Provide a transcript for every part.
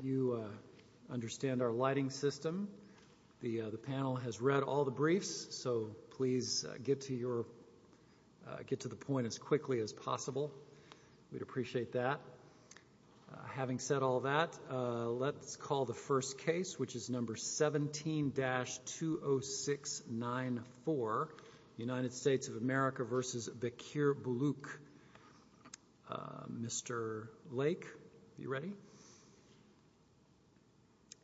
You understand our lighting system. The panel has read all the briefs, so please get to the point as quickly as possible. We'd appreciate that. Having said all that, let's call the first case, which is number 17-20694, United States of America v. Bekir Buluc. Mr. Lake, are you ready?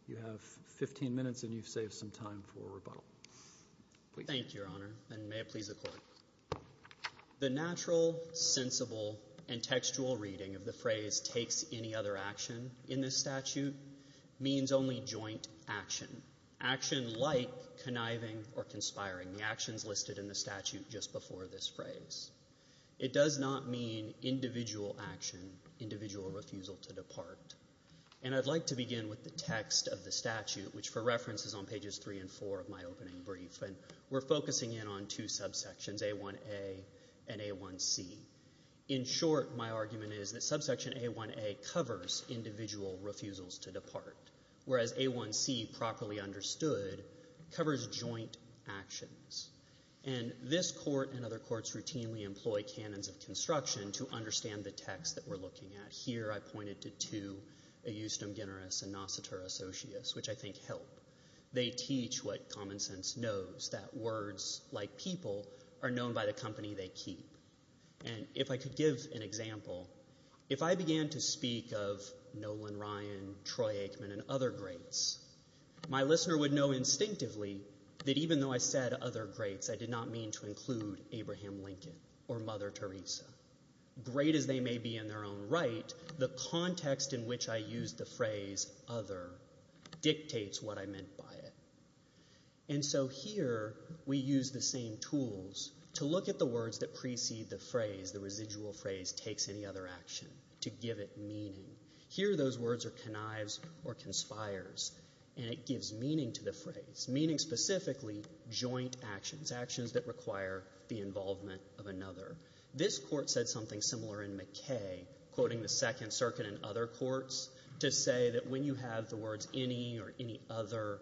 You have 15 minutes and you've saved some time for rebuttal. Thank you, Your Honor, and may it please the Court. The natural, sensible, and textual reading of the phrase takes any other action in this statute means only joint action, action like conniving or conspiring, the actions listed in the statute just before this phrase. It does not mean individual action, individual refusal to depart, and I'd like to begin with the text of the statute, which for reference is on pages 3 and 4 of my opening brief, and we're focusing in on two subsections, A1A and A1C. In short, my argument is that subsection A1A covers individual refusals to depart, whereas A1C, properly understood, covers joint actions, and this Court and other courts routinely employ canons of construction to understand the text that we're looking at. And here I pointed to two, a justum generis and nositura socius, which I think help. They teach what common sense knows, that words like people are known by the company they keep. And if I could give an example, if I began to speak of Nolan Ryan, Troy Aikman, and other greats, my listener would know instinctively that even though I said other greats, I did not mean to include Abraham Lincoln or Mother Teresa. Great as they may be in their own right, the context in which I used the phrase other dictates what I meant by it. And so here we use the same tools to look at the words that precede the phrase, the residual phrase takes any other action, to give it meaning. Here those words are connives or conspires, and it gives meaning to the phrase, meaning specifically joint actions, actions that require the involvement of another. This Court said something similar in McKay, quoting the Second Circuit and other courts, to say that when you have the words any or any other,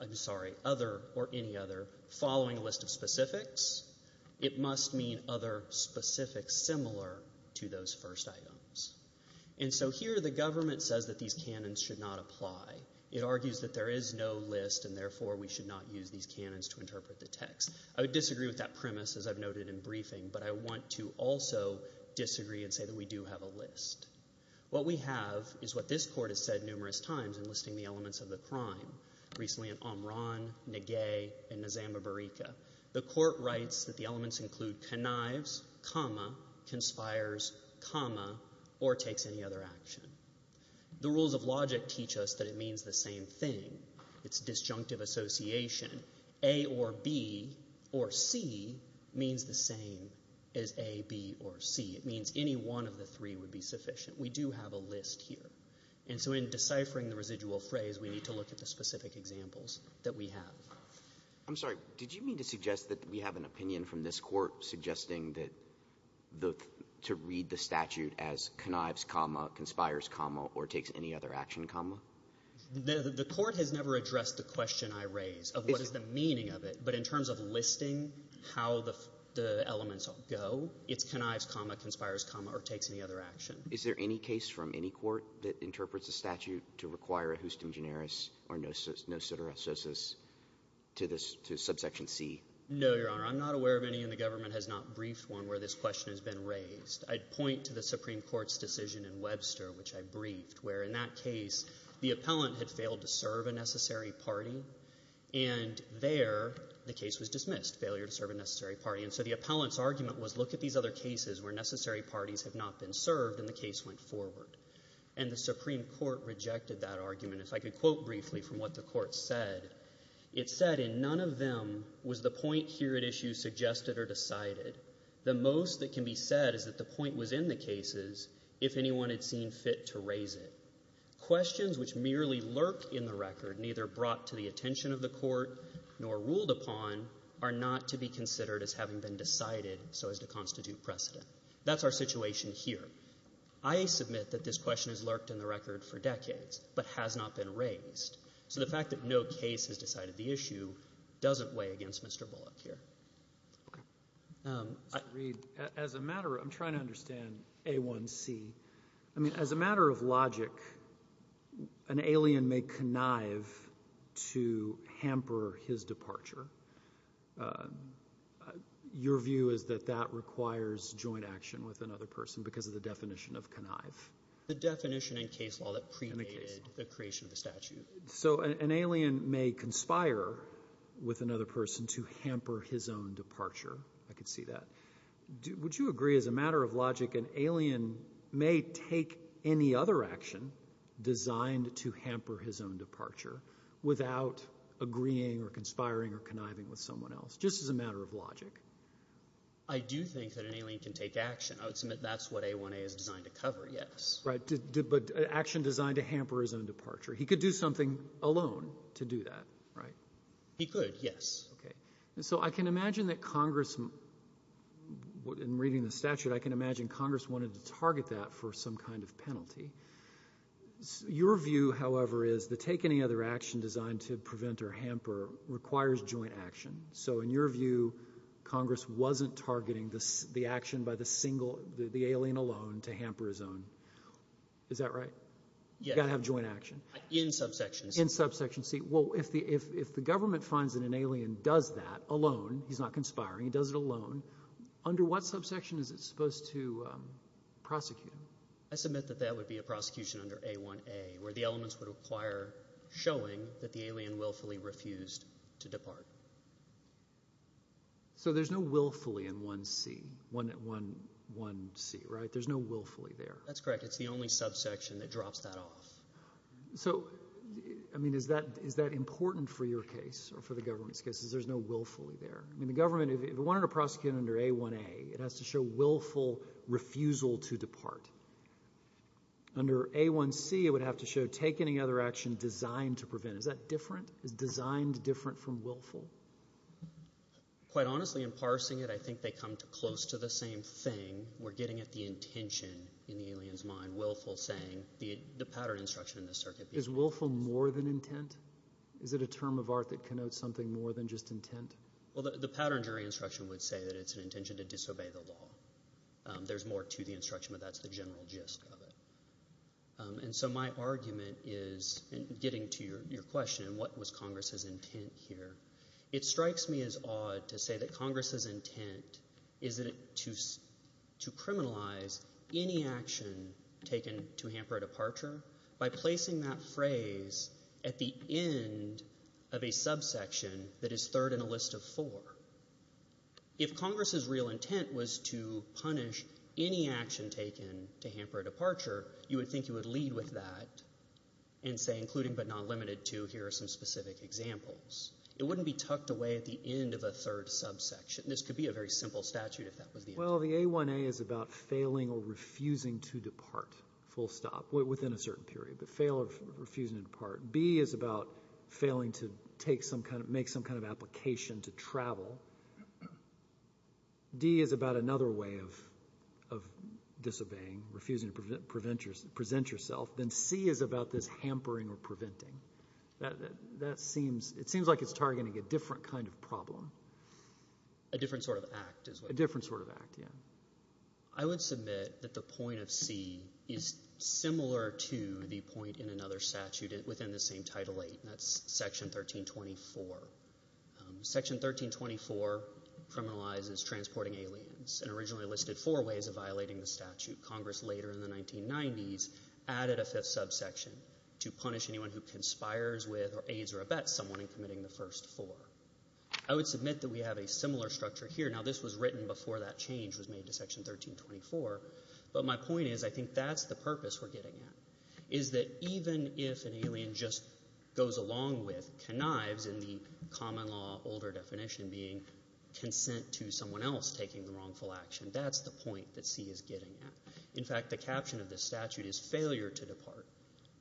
I'm sorry, other or any other, following a list of specifics, it must mean other specifics similar to those first items. And so here the government says that these canons should not apply. It argues that there is no list and therefore we should not use these canons to interpret the text. I would disagree with that premise as I've noted in briefing, but I want to also disagree and say that we do have a list. What we have is what this Court has said numerous times in listing the elements of the crime, recently in Omron, Negay, and Nizamabarika. The Court writes that the elements include connives, comma, conspires, comma, or takes any other action. The rules of logic teach us that it means the same thing. It's disjunctive association. A or B or C means the same as A, B, or C. It means any one of the three would be sufficient. We do have a list here. And so in deciphering the residual phrase, we need to look at the specific examples that we have. I'm sorry. Did you mean to suggest that we have an opinion from this Court suggesting that the to read the statute as connives, comma, conspires, comma, or takes any other action, comma? The Court has never addressed the question I raised of what is the meaning of it, but in terms of listing how the elements go, it's connives, comma, conspires, comma, or takes any other action. Is there any case from any Court that interprets the statute to require a hustum generis or nociterosus to subsection C? No, Your Honor. I'm not aware of any, and the government has not briefed one, where this question has been raised. I'd point to the Supreme Court's decision in Webster, which I briefed, where in that case, the appellant had failed to serve a necessary party, and there the case was dismissed, failure to serve a necessary party. And so the appellant's argument was look at these other cases where necessary parties have not been served, and the case went forward. And the Supreme Court rejected that argument. If I could quote briefly from what the Court said, it said, and none of them was the point here at issue suggested or decided. The most that can be said is that the point was in the cases if anyone had seen fit to raise it. Questions which merely lurk in the record, neither brought to the attention of the Court, nor ruled upon, are not to be considered as having been decided so as to constitute precedent. That's our situation here. I submit that this question has lurked in the record for decades, but has not been raised. So the fact that no case has decided the issue doesn't weigh against Mr. Bullock here. As a matter of logic, an alien may connive to hamper his departure. Your view is that that requires joint action with another person because of the definition of connive. The definition in case law that premade the creation of the statute. So an alien may conspire with another person to hamper his own departure. I could see that. Would you agree as a matter of logic an alien may take any other action designed to hamper his own departure without agreeing or conspiring or conniving with someone else, just as a matter of logic? I do think that an alien can take action. I would submit that's what A1A is designed to cover, yes. But action designed to hamper his own departure. He could do something alone to do that, right? He could, yes. So I can imagine that Congress, in reading the statute, I can imagine Congress wanted to target that for some kind of penalty. Your view, however, is that take any other action designed to prevent or hamper requires joint action. So in your view, Congress wasn't targeting the action by the alien alone to hamper his own. Is that right? You've got to have joint action. In subsection C. In subsection C. Well, if the government finds that an alien does that alone, he's not conspiring, he does it alone, under what subsection is it supposed to prosecute him? I submit that that would be a prosecution under A1A, where the elements would require showing that the alien willfully refused to depart. So there's no willfully in 1C, right? There's no willfully there. That's correct. It's the only subsection that drops that off. So, I mean, is that important for your case or for the government's case, is there's no willfully there? I mean, the government, if it wanted to prosecute under A1A, it has to show willful refusal to depart. Under A1C, it would have to show take any other action designed to prevent. Is that different? Is designed different from willful? Quite honestly, in parsing it, I think they come close to the same thing. We're getting at the intention in the alien's mind, willful saying, the pattern instruction in the circuit. Is willful more than intent? Is it a term of art that connotes something more than just intent? Well, the pattern jury instruction would say that it's an intention to disobey the law. There's more to the instruction, but that's the general gist of it. And so my argument is, getting to your question, what was Congress's intent here, it strikes me as odd to say that Congress's intent is to criminalize any action taken to hamper a departure by placing that phrase at the end of a subsection that is third in a list of four. If Congress's real intent was to punish any action taken to hamper a departure, you would think you would lead with that and say, including but not limited to, here are some specific examples. It wouldn't be tucked away at the end of a third subsection. This could be a very simple statute if that was the intent. Well, the A1A is about failing or refusing to depart, full stop, within a certain period. Fail or refusing to depart. B is about failing to make some kind of application to travel. D is about another way of disobeying, refusing to present yourself. Then C is about this hampering or preventing. A different sort of act as well. A different sort of act, yeah. I would submit that the point of C is similar to the point in another statute within the same Title VIII, and that's Section 1324. Section 1324 criminalizes transporting aliens and originally listed four ways of violating the statute. Congress later in the 1990s added a fifth subsection to punish anyone who conspires with or aids or abets someone in committing the first four. I would submit that we have a similar structure here. Now, this was written before that change was made to Section 1324, but my point is I think that's the purpose we're getting at, is that even if an alien just goes along with, connives in the common law, older definition being consent to someone else taking the wrongful action, that's the point that C is getting at. In fact, the caption of this statute is failure to depart,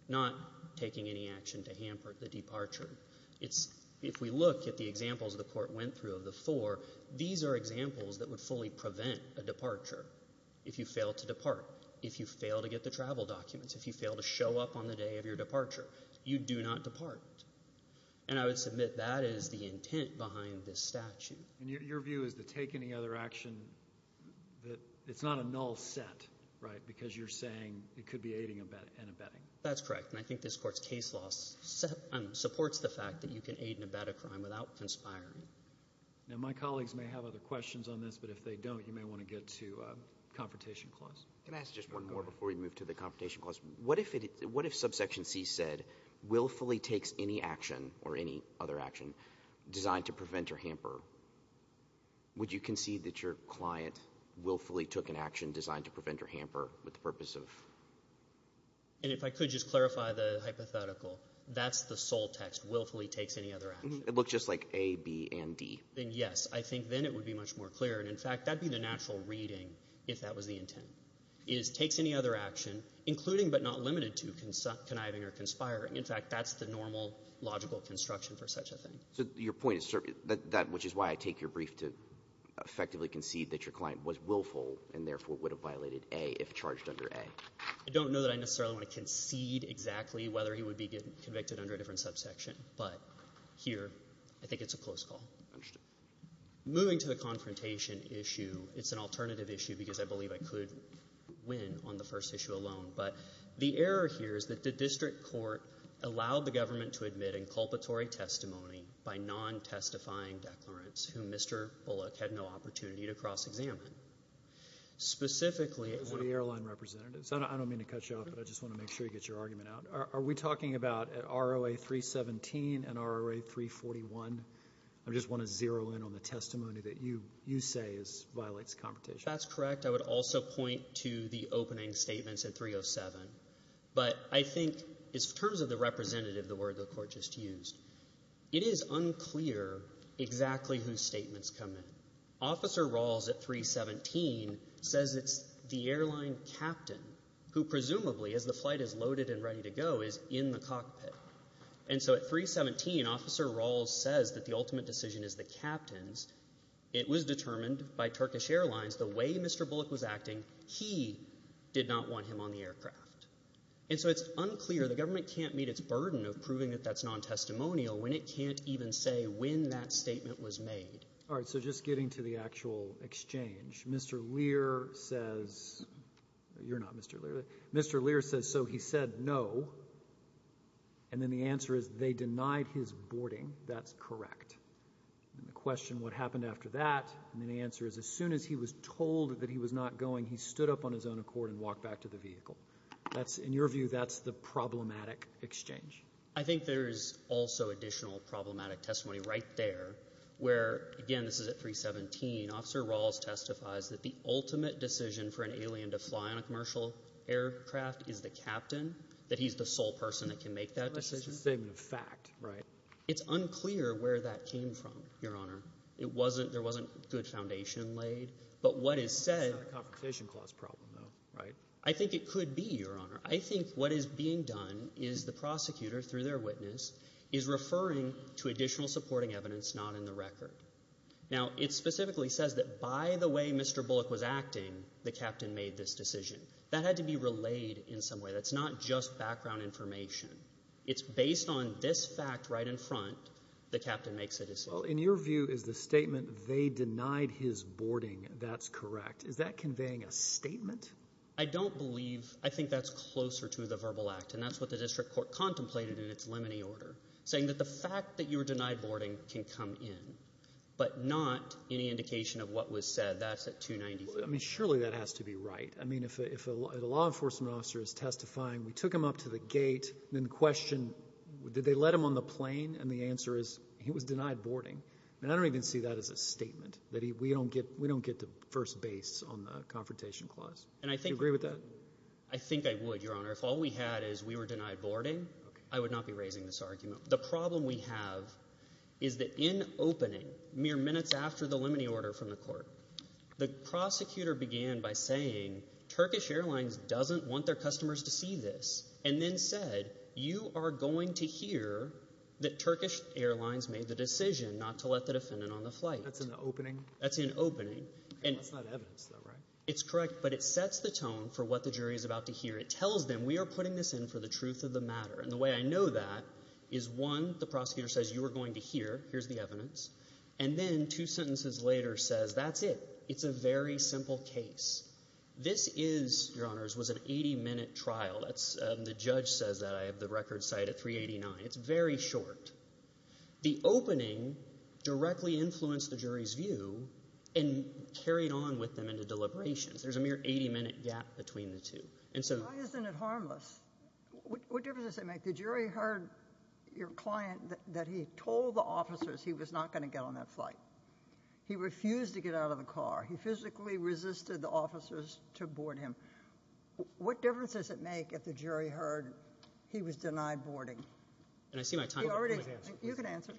not taking any action to hamper the departure. If we look at the examples the Court went through of the four, these are examples that would fully prevent a departure if you fail to depart, if you fail to get the travel documents, if you fail to show up on the day of your departure. You do not depart. And I would submit that is the intent behind this statute. And your view is to take any other action that it's not a null set, right, because you're saying it could be aiding and abetting. That's correct. And I think this Court's case law supports the fact that you can aid and abet a crime without conspiring. Now, my colleagues may have other questions on this, but if they don't you may want to get to the Confrontation Clause. Can I ask just one more before we move to the Confrontation Clause? What if Subsection C said willfully takes any action or any other action designed to prevent or hamper? Would you concede that your client willfully took an action designed to prevent or hamper with the purpose of? And if I could just clarify the hypothetical, that's the sole text, willfully takes any other action. It looks just like A, B, and D. Yes. I think then it would be much more clear. And, in fact, that would be the natural reading if that was the intent, is takes any other action, including but not limited to conniving or conspiring. In fact, that's the normal logical construction for such a thing. So your point is that which is why I take your brief to effectively concede that your client was willful and, therefore, would have violated A if charged under A. I don't know that I necessarily want to concede exactly whether he would be convicted under a different subsection, but here I think it's a close call. Understood. Moving to the confrontation issue, it's an alternative issue because I believe I could win on the first issue alone, but the error here is that the district court allowed the government to admit inculpatory testimony by non-testifying declarants whom Mr. Bullock had no opportunity to cross-examine. Specifically at one of the airline representatives. I don't mean to cut you off, but I just want to make sure you get your argument out. Are we talking about an ROA 317 and ROA 341? I just want to zero in on the testimony that you say violates confrontation. That's correct. I would also point to the opening statements at 307. But I think in terms of the representative, the word the court just used, it is unclear exactly whose statements come in. Officer Rawls at 317 says it's the airline captain who presumably, as the flight is loaded and ready to go, is in the cockpit. And so at 317, Officer Rawls says that the ultimate decision is the captain's. It was determined by Turkish Airlines the way Mr. Bullock was acting, he did not want him on the aircraft. And so it's unclear, the government can't meet its burden of proving that that's non-testimonial when it can't even say when that statement was made. All right, so just getting to the actual exchange, Mr. Lear says, you're not Mr. Lear, Mr. Lear says, so he said no, and then the answer is they denied his boarding. That's correct. And the question, what happened after that? And the answer is as soon as he was told that he was not going, he stood up on his own accord and walked back to the vehicle. In your view, that's the problematic exchange. I think there is also additional problematic testimony right there where, again, this is at 317, Officer Rawls testifies that the ultimate decision for an alien to fly on a commercial aircraft is the captain, that he's the sole person that can make that decision. It's a statement of fact, right? It's unclear where that came from, Your Honor. There wasn't good foundation laid. But what is said— It's not a confirmation clause problem, though, right? I think it could be, Your Honor. I think what is being done is the prosecutor, through their witness, is referring to additional supporting evidence not in the record. Now, it specifically says that by the way Mr. Bullock was acting, the captain made this decision. That had to be relayed in some way. That's not just background information. It's based on this fact right in front, the captain makes a decision. Well, in your view, is the statement they denied his boarding, that's correct? Is that conveying a statement? I don't believe—I think that's closer to the verbal act, and that's what the district court contemplated in its limine order, saying that the fact that you were denied boarding can come in, but not any indication of what was said. That's at 295. I mean, surely that has to be right. I mean, if a law enforcement officer is testifying, we took him up to the gate, and then question, did they let him on the plane? And the answer is he was denied boarding. I mean, I don't even see that as a statement, that we don't get to first base on the confrontation clause. Do you agree with that? I think I would, Your Honor. If all we had is we were denied boarding, I would not be raising this argument. The problem we have is that in opening, mere minutes after the limine order from the court, the prosecutor began by saying Turkish Airlines doesn't want their customers to see this and then said you are going to hear that Turkish Airlines made the decision not to let the defendant on the flight. That's in the opening? That's in opening. That's not evidence though, right? It's correct, but it sets the tone for what the jury is about to hear. It tells them we are putting this in for the truth of the matter, and the way I know that is, one, the prosecutor says you are going to hear, here's the evidence, and then two sentences later says that's it. It's a very simple case. This is, Your Honors, was an 80-minute trial. The judge says that. I have the record cited 389. It's very short. The opening directly influenced the jury's view and carried on with them into deliberations. There's a mere 80-minute gap between the two. Why isn't it harmless? What difference does it make? The jury heard your client that he told the officers he was not going to get on that flight. He refused to get out of the car. He physically resisted the officers to board him. What difference does it make if the jury heard he was denied boarding? You can answer.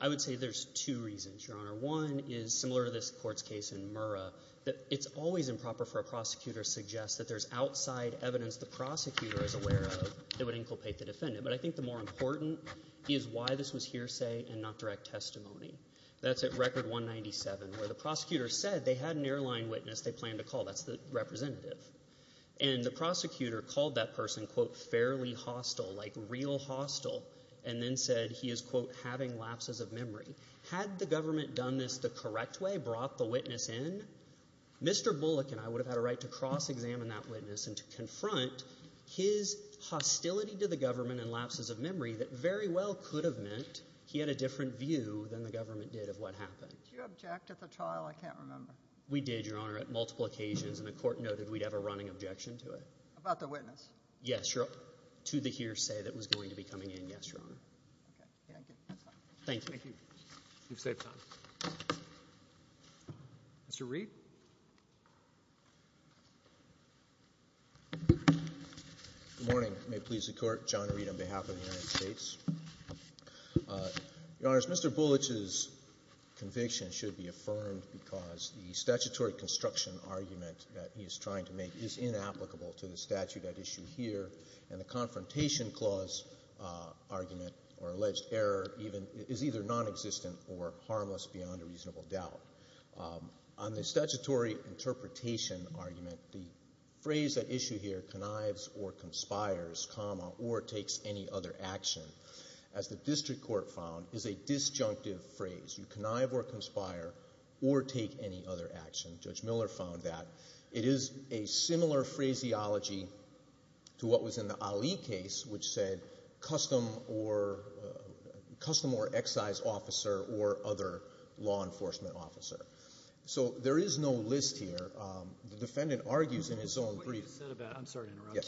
I would say there's two reasons, Your Honor. One is similar to this court's case in Murrah. It's always improper for a prosecutor to suggest that there's outside evidence the prosecutor is aware of that would inculpate the defendant. But I think the more important is why this was hearsay and not direct testimony. That's at Record 197 where the prosecutor said they had an airline witness they planned to call. That's the representative. And the prosecutor called that person, quote, fairly hostile, like real hostile, and then said he is, quote, having lapses of memory. Had the government done this the correct way, brought the witness in, Mr. Bullock and I would have had a right to cross-examine that witness and to confront his hostility to the government and lapses of memory that very well could have meant he had a different view than the government did of what happened. Did you object at the trial? I can't remember. We did, Your Honor, at multiple occasions. And the court noted we'd have a running objection to it. About the witness? Yes, Your Honor. To the hearsay that was going to be coming in, yes, Your Honor. Okay. Thank you. That's all. Thank you. Thank you. You've saved time. Mr. Reed? Good morning. May it please the Court. John Reed on behalf of the United States. Your Honors, Mr. Bulloch's conviction should be affirmed because the statutory construction argument that he is trying to make is inapplicable to the statute at issue here, and the confrontation clause argument or alleged error is either nonexistent or harmless beyond a reasonable doubt. On the statutory interpretation argument, the phrase at issue here, connives or conspires, comma, or takes any other action, as the district court found, is a disjunctive phrase. You connive or conspire or take any other action. Judge Miller found that. It is a similar phraseology to what was in the Ali case, which said custom or excise officer or other law enforcement officer. So there is no list here. The defendant argues in his own brief.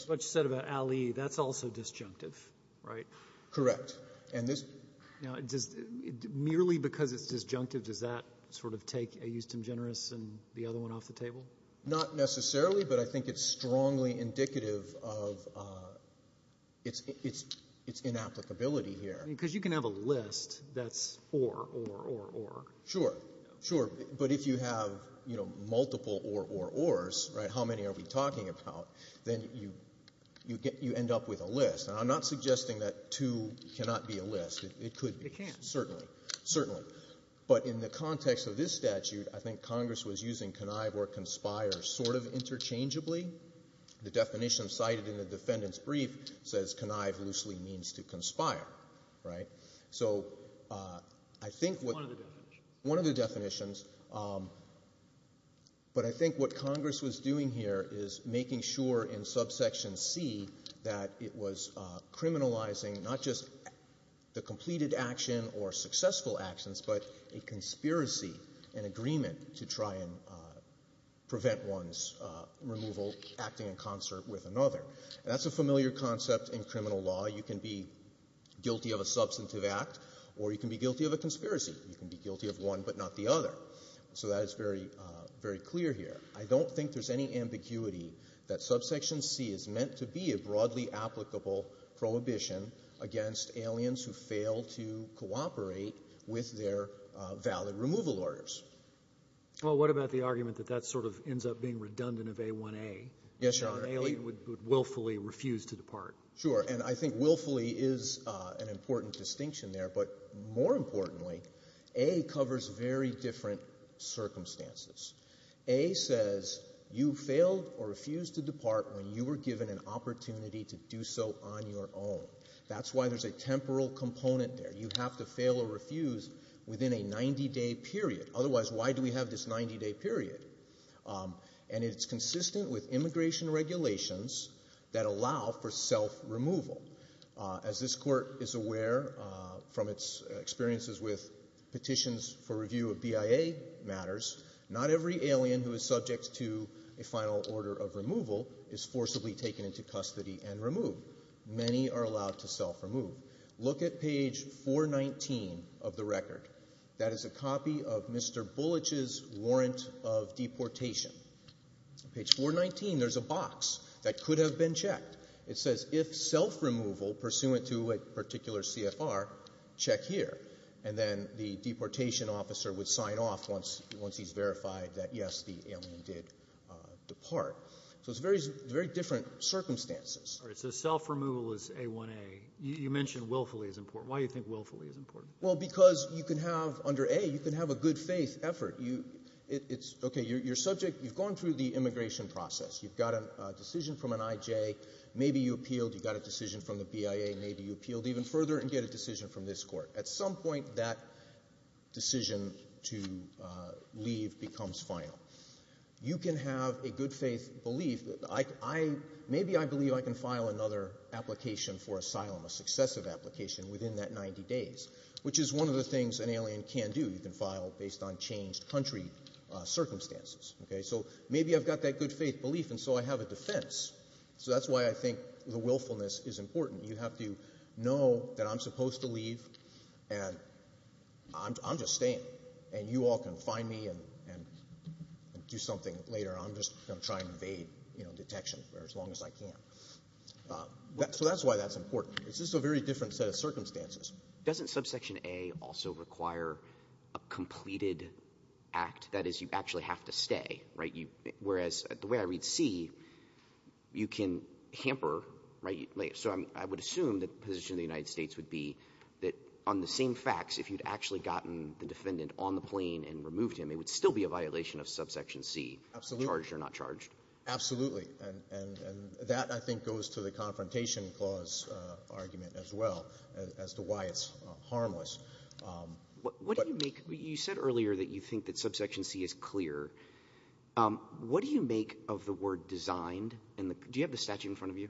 What you said about Ali, that's also disjunctive, right? Correct. Now, merely because it's disjunctive, does that sort of take a eustem generis and the other one off the table? Not necessarily, but I think it's strongly indicative of its inapplicability here. Because you can have a list that's or, or, or, or. Sure, sure. But if you have multiple or, or, ors, right, how many are we talking about, then you end up with a list. And I'm not suggesting that to cannot be a list. It could be. It can. Certainly. Certainly. But in the context of this statute, I think Congress was using connive or conspire sort of interchangeably. The definition cited in the defendant's brief says connive loosely means to conspire, right? So I think what one of the definitions, but I think what Congress was doing here is making sure in subsection C that it was criminalizing not just the completed action or successful actions, but a conspiracy, an agreement to try and prevent one's removal acting in concert with another. That's a familiar concept in criminal law. You can be guilty of a substantive act or you can be guilty of a conspiracy. You can be guilty of one but not the other. So that is very, very clear here. I don't think there's any ambiguity that subsection C is meant to be a broadly applicable prohibition against aliens who fail to cooperate with their valid removal orders. Well, what about the argument that that sort of ends up being redundant of A1A? Yes, Your Honor. An alien would willfully refuse to depart. Sure. And I think willfully is an important distinction there. But more importantly, A covers very different circumstances. A says you failed or refused to depart when you were given an opportunity to do so on your own. That's why there's a temporal component there. You have to fail or refuse within a 90-day period. Otherwise, why do we have this 90-day period? And it's consistent with immigration regulations that allow for self-removal. As this Court is aware from its experiences with petitions for review of BIA matters, not every alien who is subject to a final order of removal is forcibly taken into custody and removed. Many are allowed to self-remove. Look at page 419 of the record. That is a copy of Mr. Bullich's warrant of deportation. Page 419, there's a box that could have been checked. It says, if self-removal pursuant to a particular CFR, check here. And then the deportation officer would sign off once he's verified that, yes, the alien did depart. So it's very different circumstances. All right. So self-removal is A1A. You mentioned willfully is important. Why do you think willfully is important? Well, because you can have under A, you can have a good-faith effort. It's okay. You're subject. You've gone through the immigration process. You've got a decision from an IJ. Maybe you appealed. You got a decision from the BIA. Maybe you appealed even further and get a decision from this Court. At some point, that decision to leave becomes final. You can have a good-faith belief. Maybe I believe I can file another application for asylum, a successive application, within that 90 days, which is one of the things an alien can do. You can file based on changed country circumstances. Okay? So maybe I've got that good-faith belief, and so I have a defense. So that's why I think the willfulness is important. You have to know that I'm supposed to leave, and I'm just staying, and you all can find me and do something later. I'm just going to try and evade detection for as long as I can. So that's why that's important. It's just a very different set of circumstances. Doesn't subsection A also require a completed act? That is, you actually have to stay, right? Whereas the way I read C, you can hamper, right? So I would assume that the position of the United States would be that on the same facts, if you'd actually gotten the defendant on the plane and removed him, it would still be a violation of subsection C, charged or not charged. Absolutely. And that, I think, goes to the confrontation clause argument as well as to why it's harmless. You said earlier that you think that subsection C is clear. What do you make of the word designed? Do you have the statute in front of you,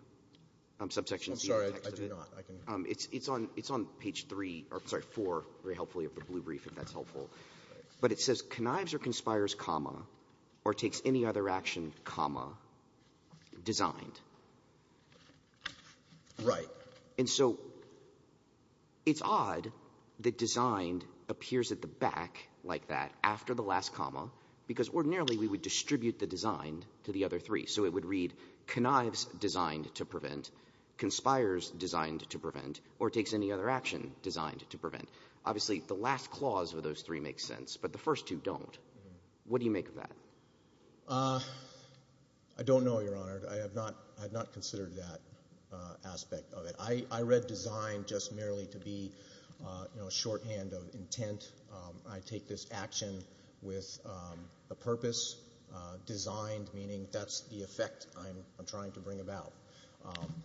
subsection C? I'm sorry, I do not. It's on page 3 or 4, very helpfully, of the Blue Brief, if that's helpful. But it says connives or conspires, comma, or takes any other action, comma, designed. Right. And so it's odd that designed appears at the back like that after the last comma because ordinarily we would distribute the designed to the other three. So it would read connives designed to prevent, conspires designed to prevent, or takes any other action designed to prevent. Obviously, the last clause of those three makes sense, but the first two don't. What do you make of that? I don't know, Your Honor. I have not considered that aspect of it. I read designed just merely to be a shorthand of intent. I take this action with a purpose, designed, meaning that's the effect I'm trying to bring about.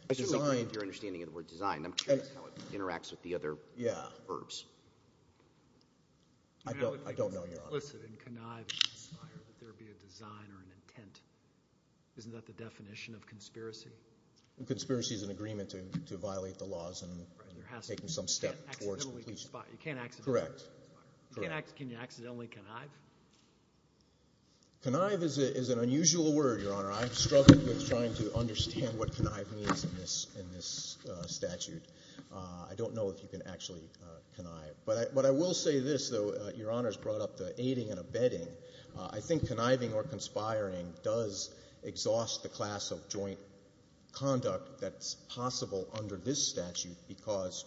I think you're understanding of the word designed. I'm curious how it interacts with the other verbs. Yeah. I don't know, Your Honor. It's implicit in connive and conspire that there be a design or an intent. Isn't that the definition of conspiracy? Conspiracy is an agreement to violate the laws and taking some step towards completion. You can't accidentally conspire. Correct. Can you accidentally connive? Connive is an unusual word, Your Honor. I've struggled with trying to understand what connive means in this statute. I don't know if you can actually connive. But I will say this, though, Your Honor's brought up the aiding and abetting. I think conniving or conspiring does exhaust the class of joint conduct that's possible under this statute because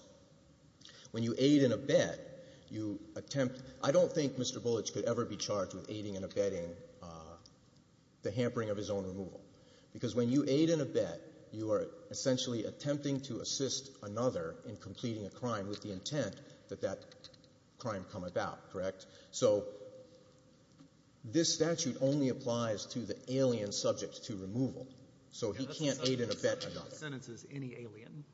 when you aid and abet, you attempt. I don't think Mr. Bullits could ever be charged with aiding and abetting the hampering of his own removal because when you aid and abet, you are essentially attempting to assist another in completing a crime with the intent that that crime come about. Correct? So this statute only applies to the alien subject to removal. So he can't aid and abet another. The sentence is any alien?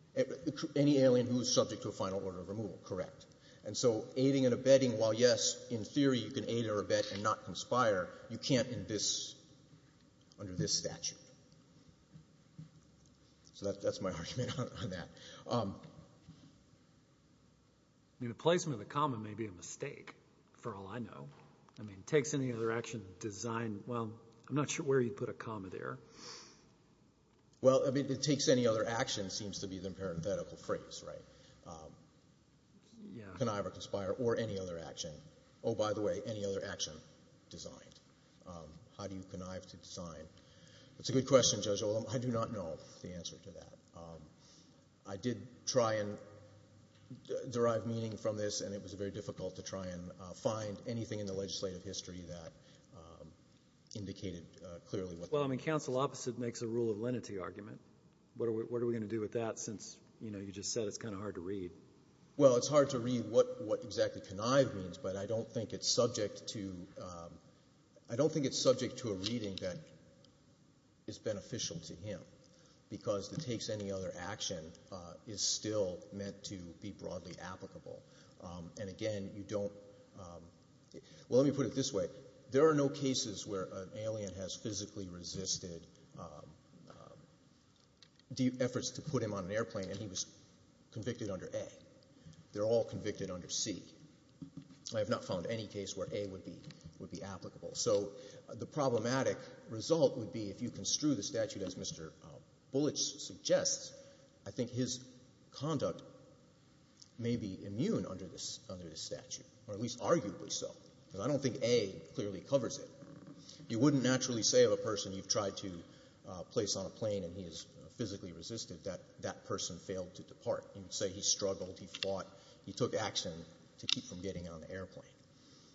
Any alien who is subject to a final order of removal. Correct. And so aiding and abetting, while, yes, in theory you can aid or abet and not conspire, you can't in this under this statute. So that's my argument on that. I mean, the placement of the comma may be a mistake for all I know. I mean, takes any other action, design. Well, I'm not sure where you'd put a comma there. Well, I mean, it takes any other action seems to be the parenthetical phrase, right? Yeah. Connive or conspire or any other action. Oh, by the way, any other action designed. How do you connive to design? That's a good question, Judge Oldham. I do not know the answer to that. I did try and derive meaning from this, and it was very difficult to try and find anything in the legislative history that indicated clearly. Well, I mean, counsel opposite makes a rule of lenity argument. What are we going to do with that since, you know, you just said it's kind of hard to read? Well, it's hard to read what exactly connive means, but I don't think it's subject to a reading that is beneficial to him because the takes any other action is still meant to be broadly applicable. And, again, you don't – well, let me put it this way. There are no cases where an alien has physically resisted efforts to put him on an airplane and he was convicted under A. They're all convicted under C. I have not found any case where A would be applicable. So the problematic result would be if you construe the statute as Mr. Bullich suggests, I think his conduct may be immune under this statute, or at least arguably so, because I don't think A clearly covers it. You wouldn't naturally say of a person you've tried to place on a plane and he has physically resisted that that person failed to depart. You'd say he struggled, he fought, he took action to keep from getting on an airplane.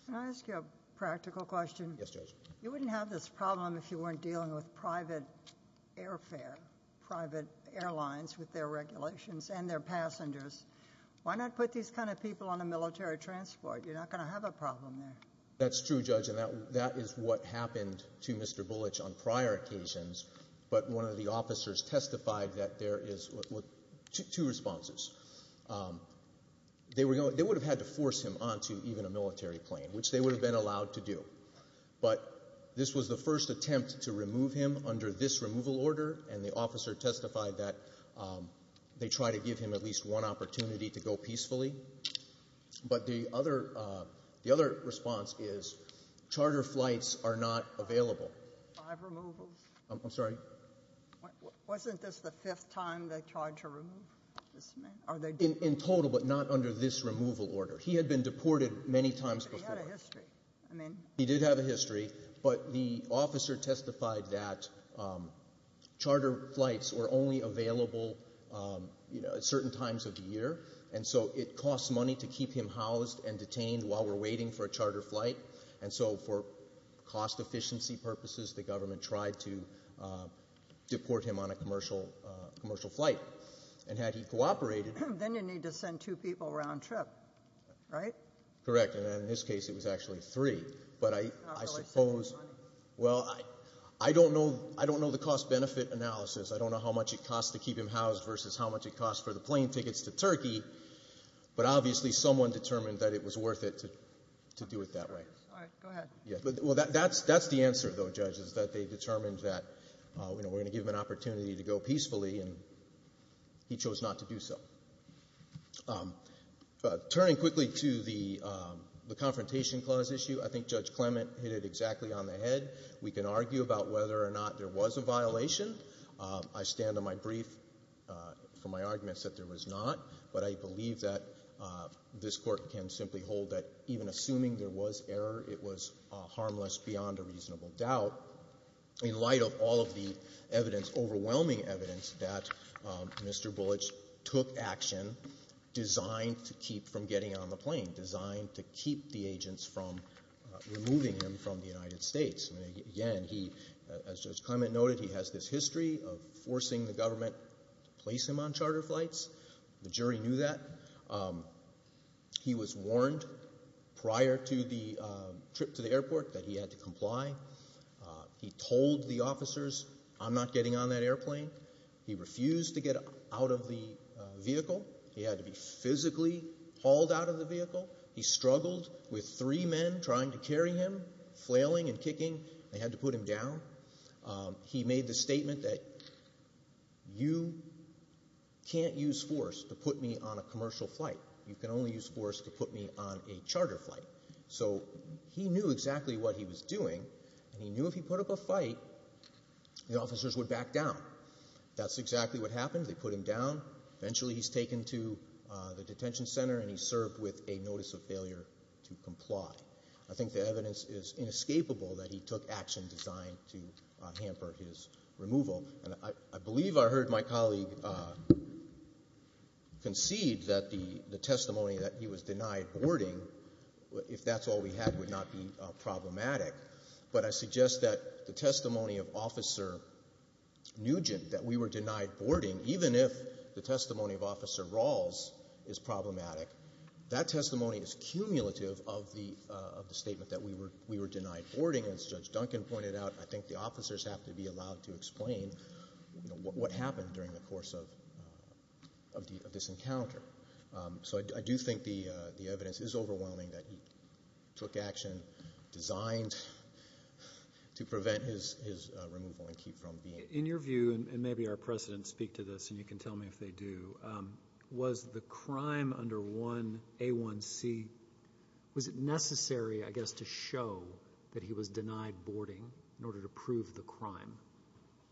Can I ask you a practical question? Yes, Judge. You wouldn't have this problem if you weren't dealing with private airfare, private airlines with their regulations and their passengers. Why not put these kind of people on a military transport? You're not going to have a problem there. That's true, Judge, and that is what happened to Mr. Bullich on prior occasions, but one of the officers testified that there is two responses. They would have had to force him onto even a military plane, which they would have been allowed to do. But this was the first attempt to remove him under this removal order, and the officer testified that they tried to give him at least one opportunity to go peacefully. But the other response is charter flights are not available. Five removals? I'm sorry? Wasn't this the fifth time they tried to remove this man? In total, but not under this removal order. He had been deported many times before. But he had a history. He did have a history, but the officer testified that charter flights were only available at certain times of the year, and so it costs money to keep him housed and detained while we're waiting for a charter flight. And so for cost efficiency purposes, the government tried to deport him on a commercial flight. And had he cooperated. Then you'd need to send two people round trip, right? Correct, and in this case it was actually three. But I suppose. Well, I don't know the cost-benefit analysis. I don't know how much it costs to keep him housed versus how much it costs for the plane tickets to Turkey, but obviously someone determined that it was worth it to do it that way. All right, go ahead. Well, that's the answer, though, Judge, is that they determined that we're going to give him an opportunity to go peacefully, and he chose not to do so. Turning quickly to the Confrontation Clause issue, I think Judge Clement hit it exactly on the head. I stand on my brief for my arguments that there was not, but I believe that this Court can simply hold that even assuming there was error, it was harmless beyond a reasonable doubt in light of all of the evidence, overwhelming evidence, that Mr. Bullich took action designed to keep from getting on the plane, designed to keep the agents from removing him from the United States. Again, he, as Judge Clement noted, he has this history of forcing the government to place him on charter flights. The jury knew that. He was warned prior to the trip to the airport that he had to comply. He told the officers, I'm not getting on that airplane. He refused to get out of the vehicle. He struggled with three men trying to carry him, flailing and kicking. They had to put him down. He made the statement that you can't use force to put me on a commercial flight. You can only use force to put me on a charter flight. So he knew exactly what he was doing, and he knew if he put up a fight, the officers would back down. That's exactly what happened. They put him down. Eventually he's taken to the detention center, and he's served with a notice of failure to comply. I think the evidence is inescapable that he took action designed to hamper his removal. And I believe I heard my colleague concede that the testimony that he was denied boarding, if that's all we had, would not be problematic. But I suggest that the testimony of Officer Nugent that we were denied boarding, even if the testimony of Officer Rawls is problematic, that testimony is cumulative of the statement that we were denied boarding. As Judge Duncan pointed out, I think the officers have to be allowed to explain what happened during the course of this encounter. So I do think the evidence is overwhelming that he took action designed to prevent his removal and keep from being. In your view, and maybe our precedents speak to this and you can tell me if they do, was the crime under 1A1C, was it necessary, I guess, to show that he was denied boarding in order to prove the crime?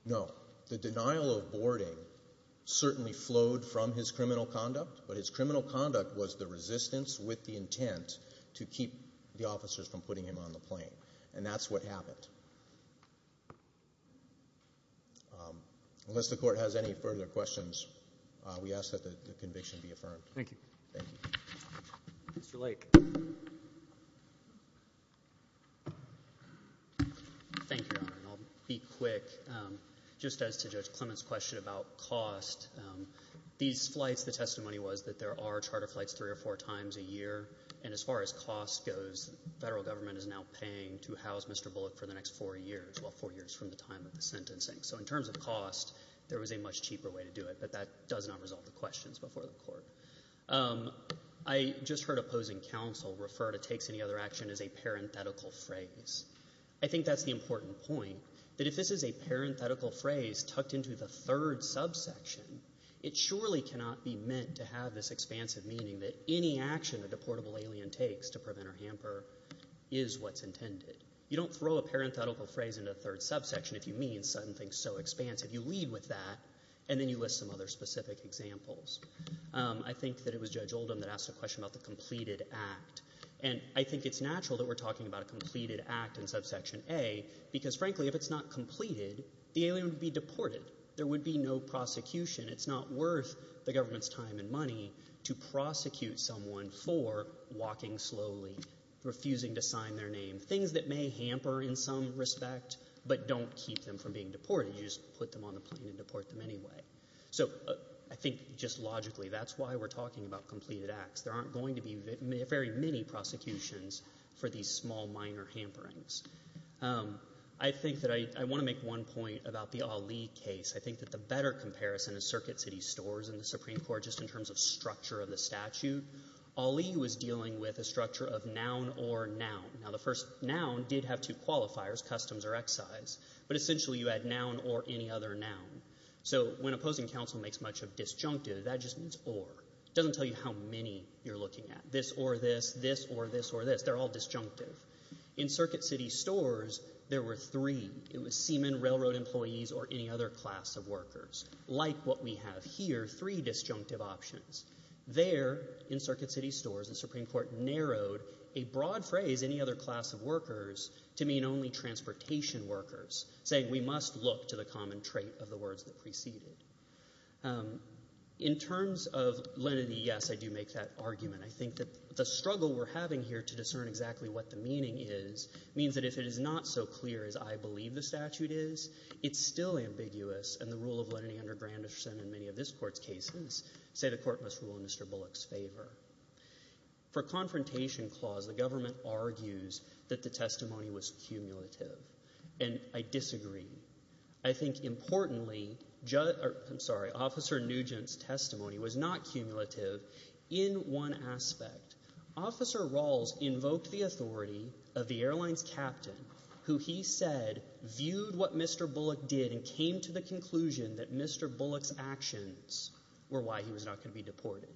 No. The denial of boarding certainly flowed from his criminal conduct, but his criminal conduct was the resistance with the intent to keep the officers from putting him on the plane. And that's what happened. Unless the Court has any further questions, we ask that the conviction be affirmed. Thank you. Thank you. Mr. Lake. Thank you, Your Honor. I'll be quick. Just as to Judge Clement's question about cost, these flights, the testimony was that there are charter flights three or four times a year, and as far as cost goes, federal government is now paying to house Mr. Bullock for the next four years, well, four years from the time of the sentencing. So in terms of cost, there was a much cheaper way to do it, but that does not resolve the questions before the Court. I just heard opposing counsel refer to takes any other action as a parenthetical phrase. I think that's the important point, that if this is a parenthetical phrase tucked into the third subsection, it surely cannot be meant to have this expansive meaning that any action a deportable alien takes to prevent or hamper is what's intended. You don't throw a parenthetical phrase into a third subsection if you mean something so expansive. You lead with that, and then you list some other specific examples. I think that it was Judge Oldham that asked a question about the completed act, and I think it's natural that we're talking about a completed act in subsection A because, frankly, if it's not completed, the alien would be deported. There would be no prosecution. It's not worth the government's time and money to prosecute someone for walking slowly, refusing to sign their name, things that may hamper in some respect but don't keep them from being deported. You just put them on the plane and deport them anyway. So I think just logically that's why we're talking about completed acts. There aren't going to be very many prosecutions for these small, minor hamperings. I think that I want to make one point about the Ali case. I think that the better comparison is Circuit City Stores and the Supreme Court just in terms of structure of the statute. Ali was dealing with a structure of noun or noun. Now, the first noun did have two qualifiers, customs or excise, but essentially you had noun or any other noun. So when opposing counsel makes much of disjunctive, that just means or. It doesn't tell you how many you're looking at, this or this, this or this or this. They're all disjunctive. In Circuit City Stores, there were three. It was seamen, railroad employees, or any other class of workers like what we have here, three disjunctive options. There in Circuit City Stores, the Supreme Court narrowed a broad phrase, any other class of workers, to mean only transportation workers, saying we must look to the common trait of the words that preceded. In terms of lenity, yes, I do make that argument. I think that the struggle we're having here to discern exactly what the meaning is means that if it is not so clear as I believe the statute is, it's still ambiguous, and the rule of lenity under Granderson in many of this court's cases say the court must rule in Mr. Bullock's favor. For confrontation clause, the government argues that the testimony was cumulative, and I disagree. I think importantly, I'm sorry, Officer Nugent's testimony was not cumulative in one aspect. Officer Rawls invoked the authority of the airline's captain who he said viewed what Mr. Bullock did and came to the conclusion that Mr. Bullock's actions were why he was not going to be deported.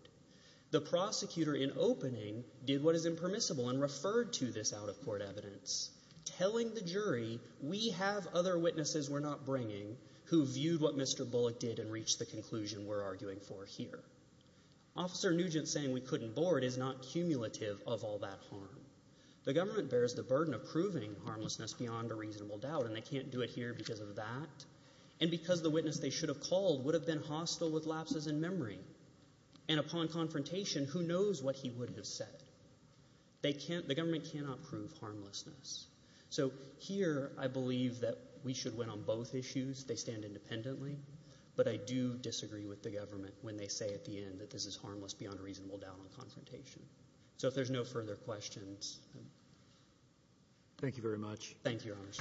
The prosecutor in opening did what is impermissible and referred to this out-of-court evidence, telling the jury we have other witnesses we're not bringing who viewed what Mr. Bullock did and reached the conclusion we're arguing for here. Officer Nugent saying we couldn't board is not cumulative of all that harm. The government bears the burden of proving harmlessness beyond a reasonable doubt, and they can't do it here because of that, and because the witness they should have called would have been hostile with lapses in memory. And upon confrontation, who knows what he would have said? The government cannot prove harmlessness. So here I believe that we should win on both issues. They stand independently, but I do disagree with the government when they say at the end that this is harmless beyond a reasonable doubt on confrontation. So if there's no further questions. Thank you very much. Thank you, Your Honors.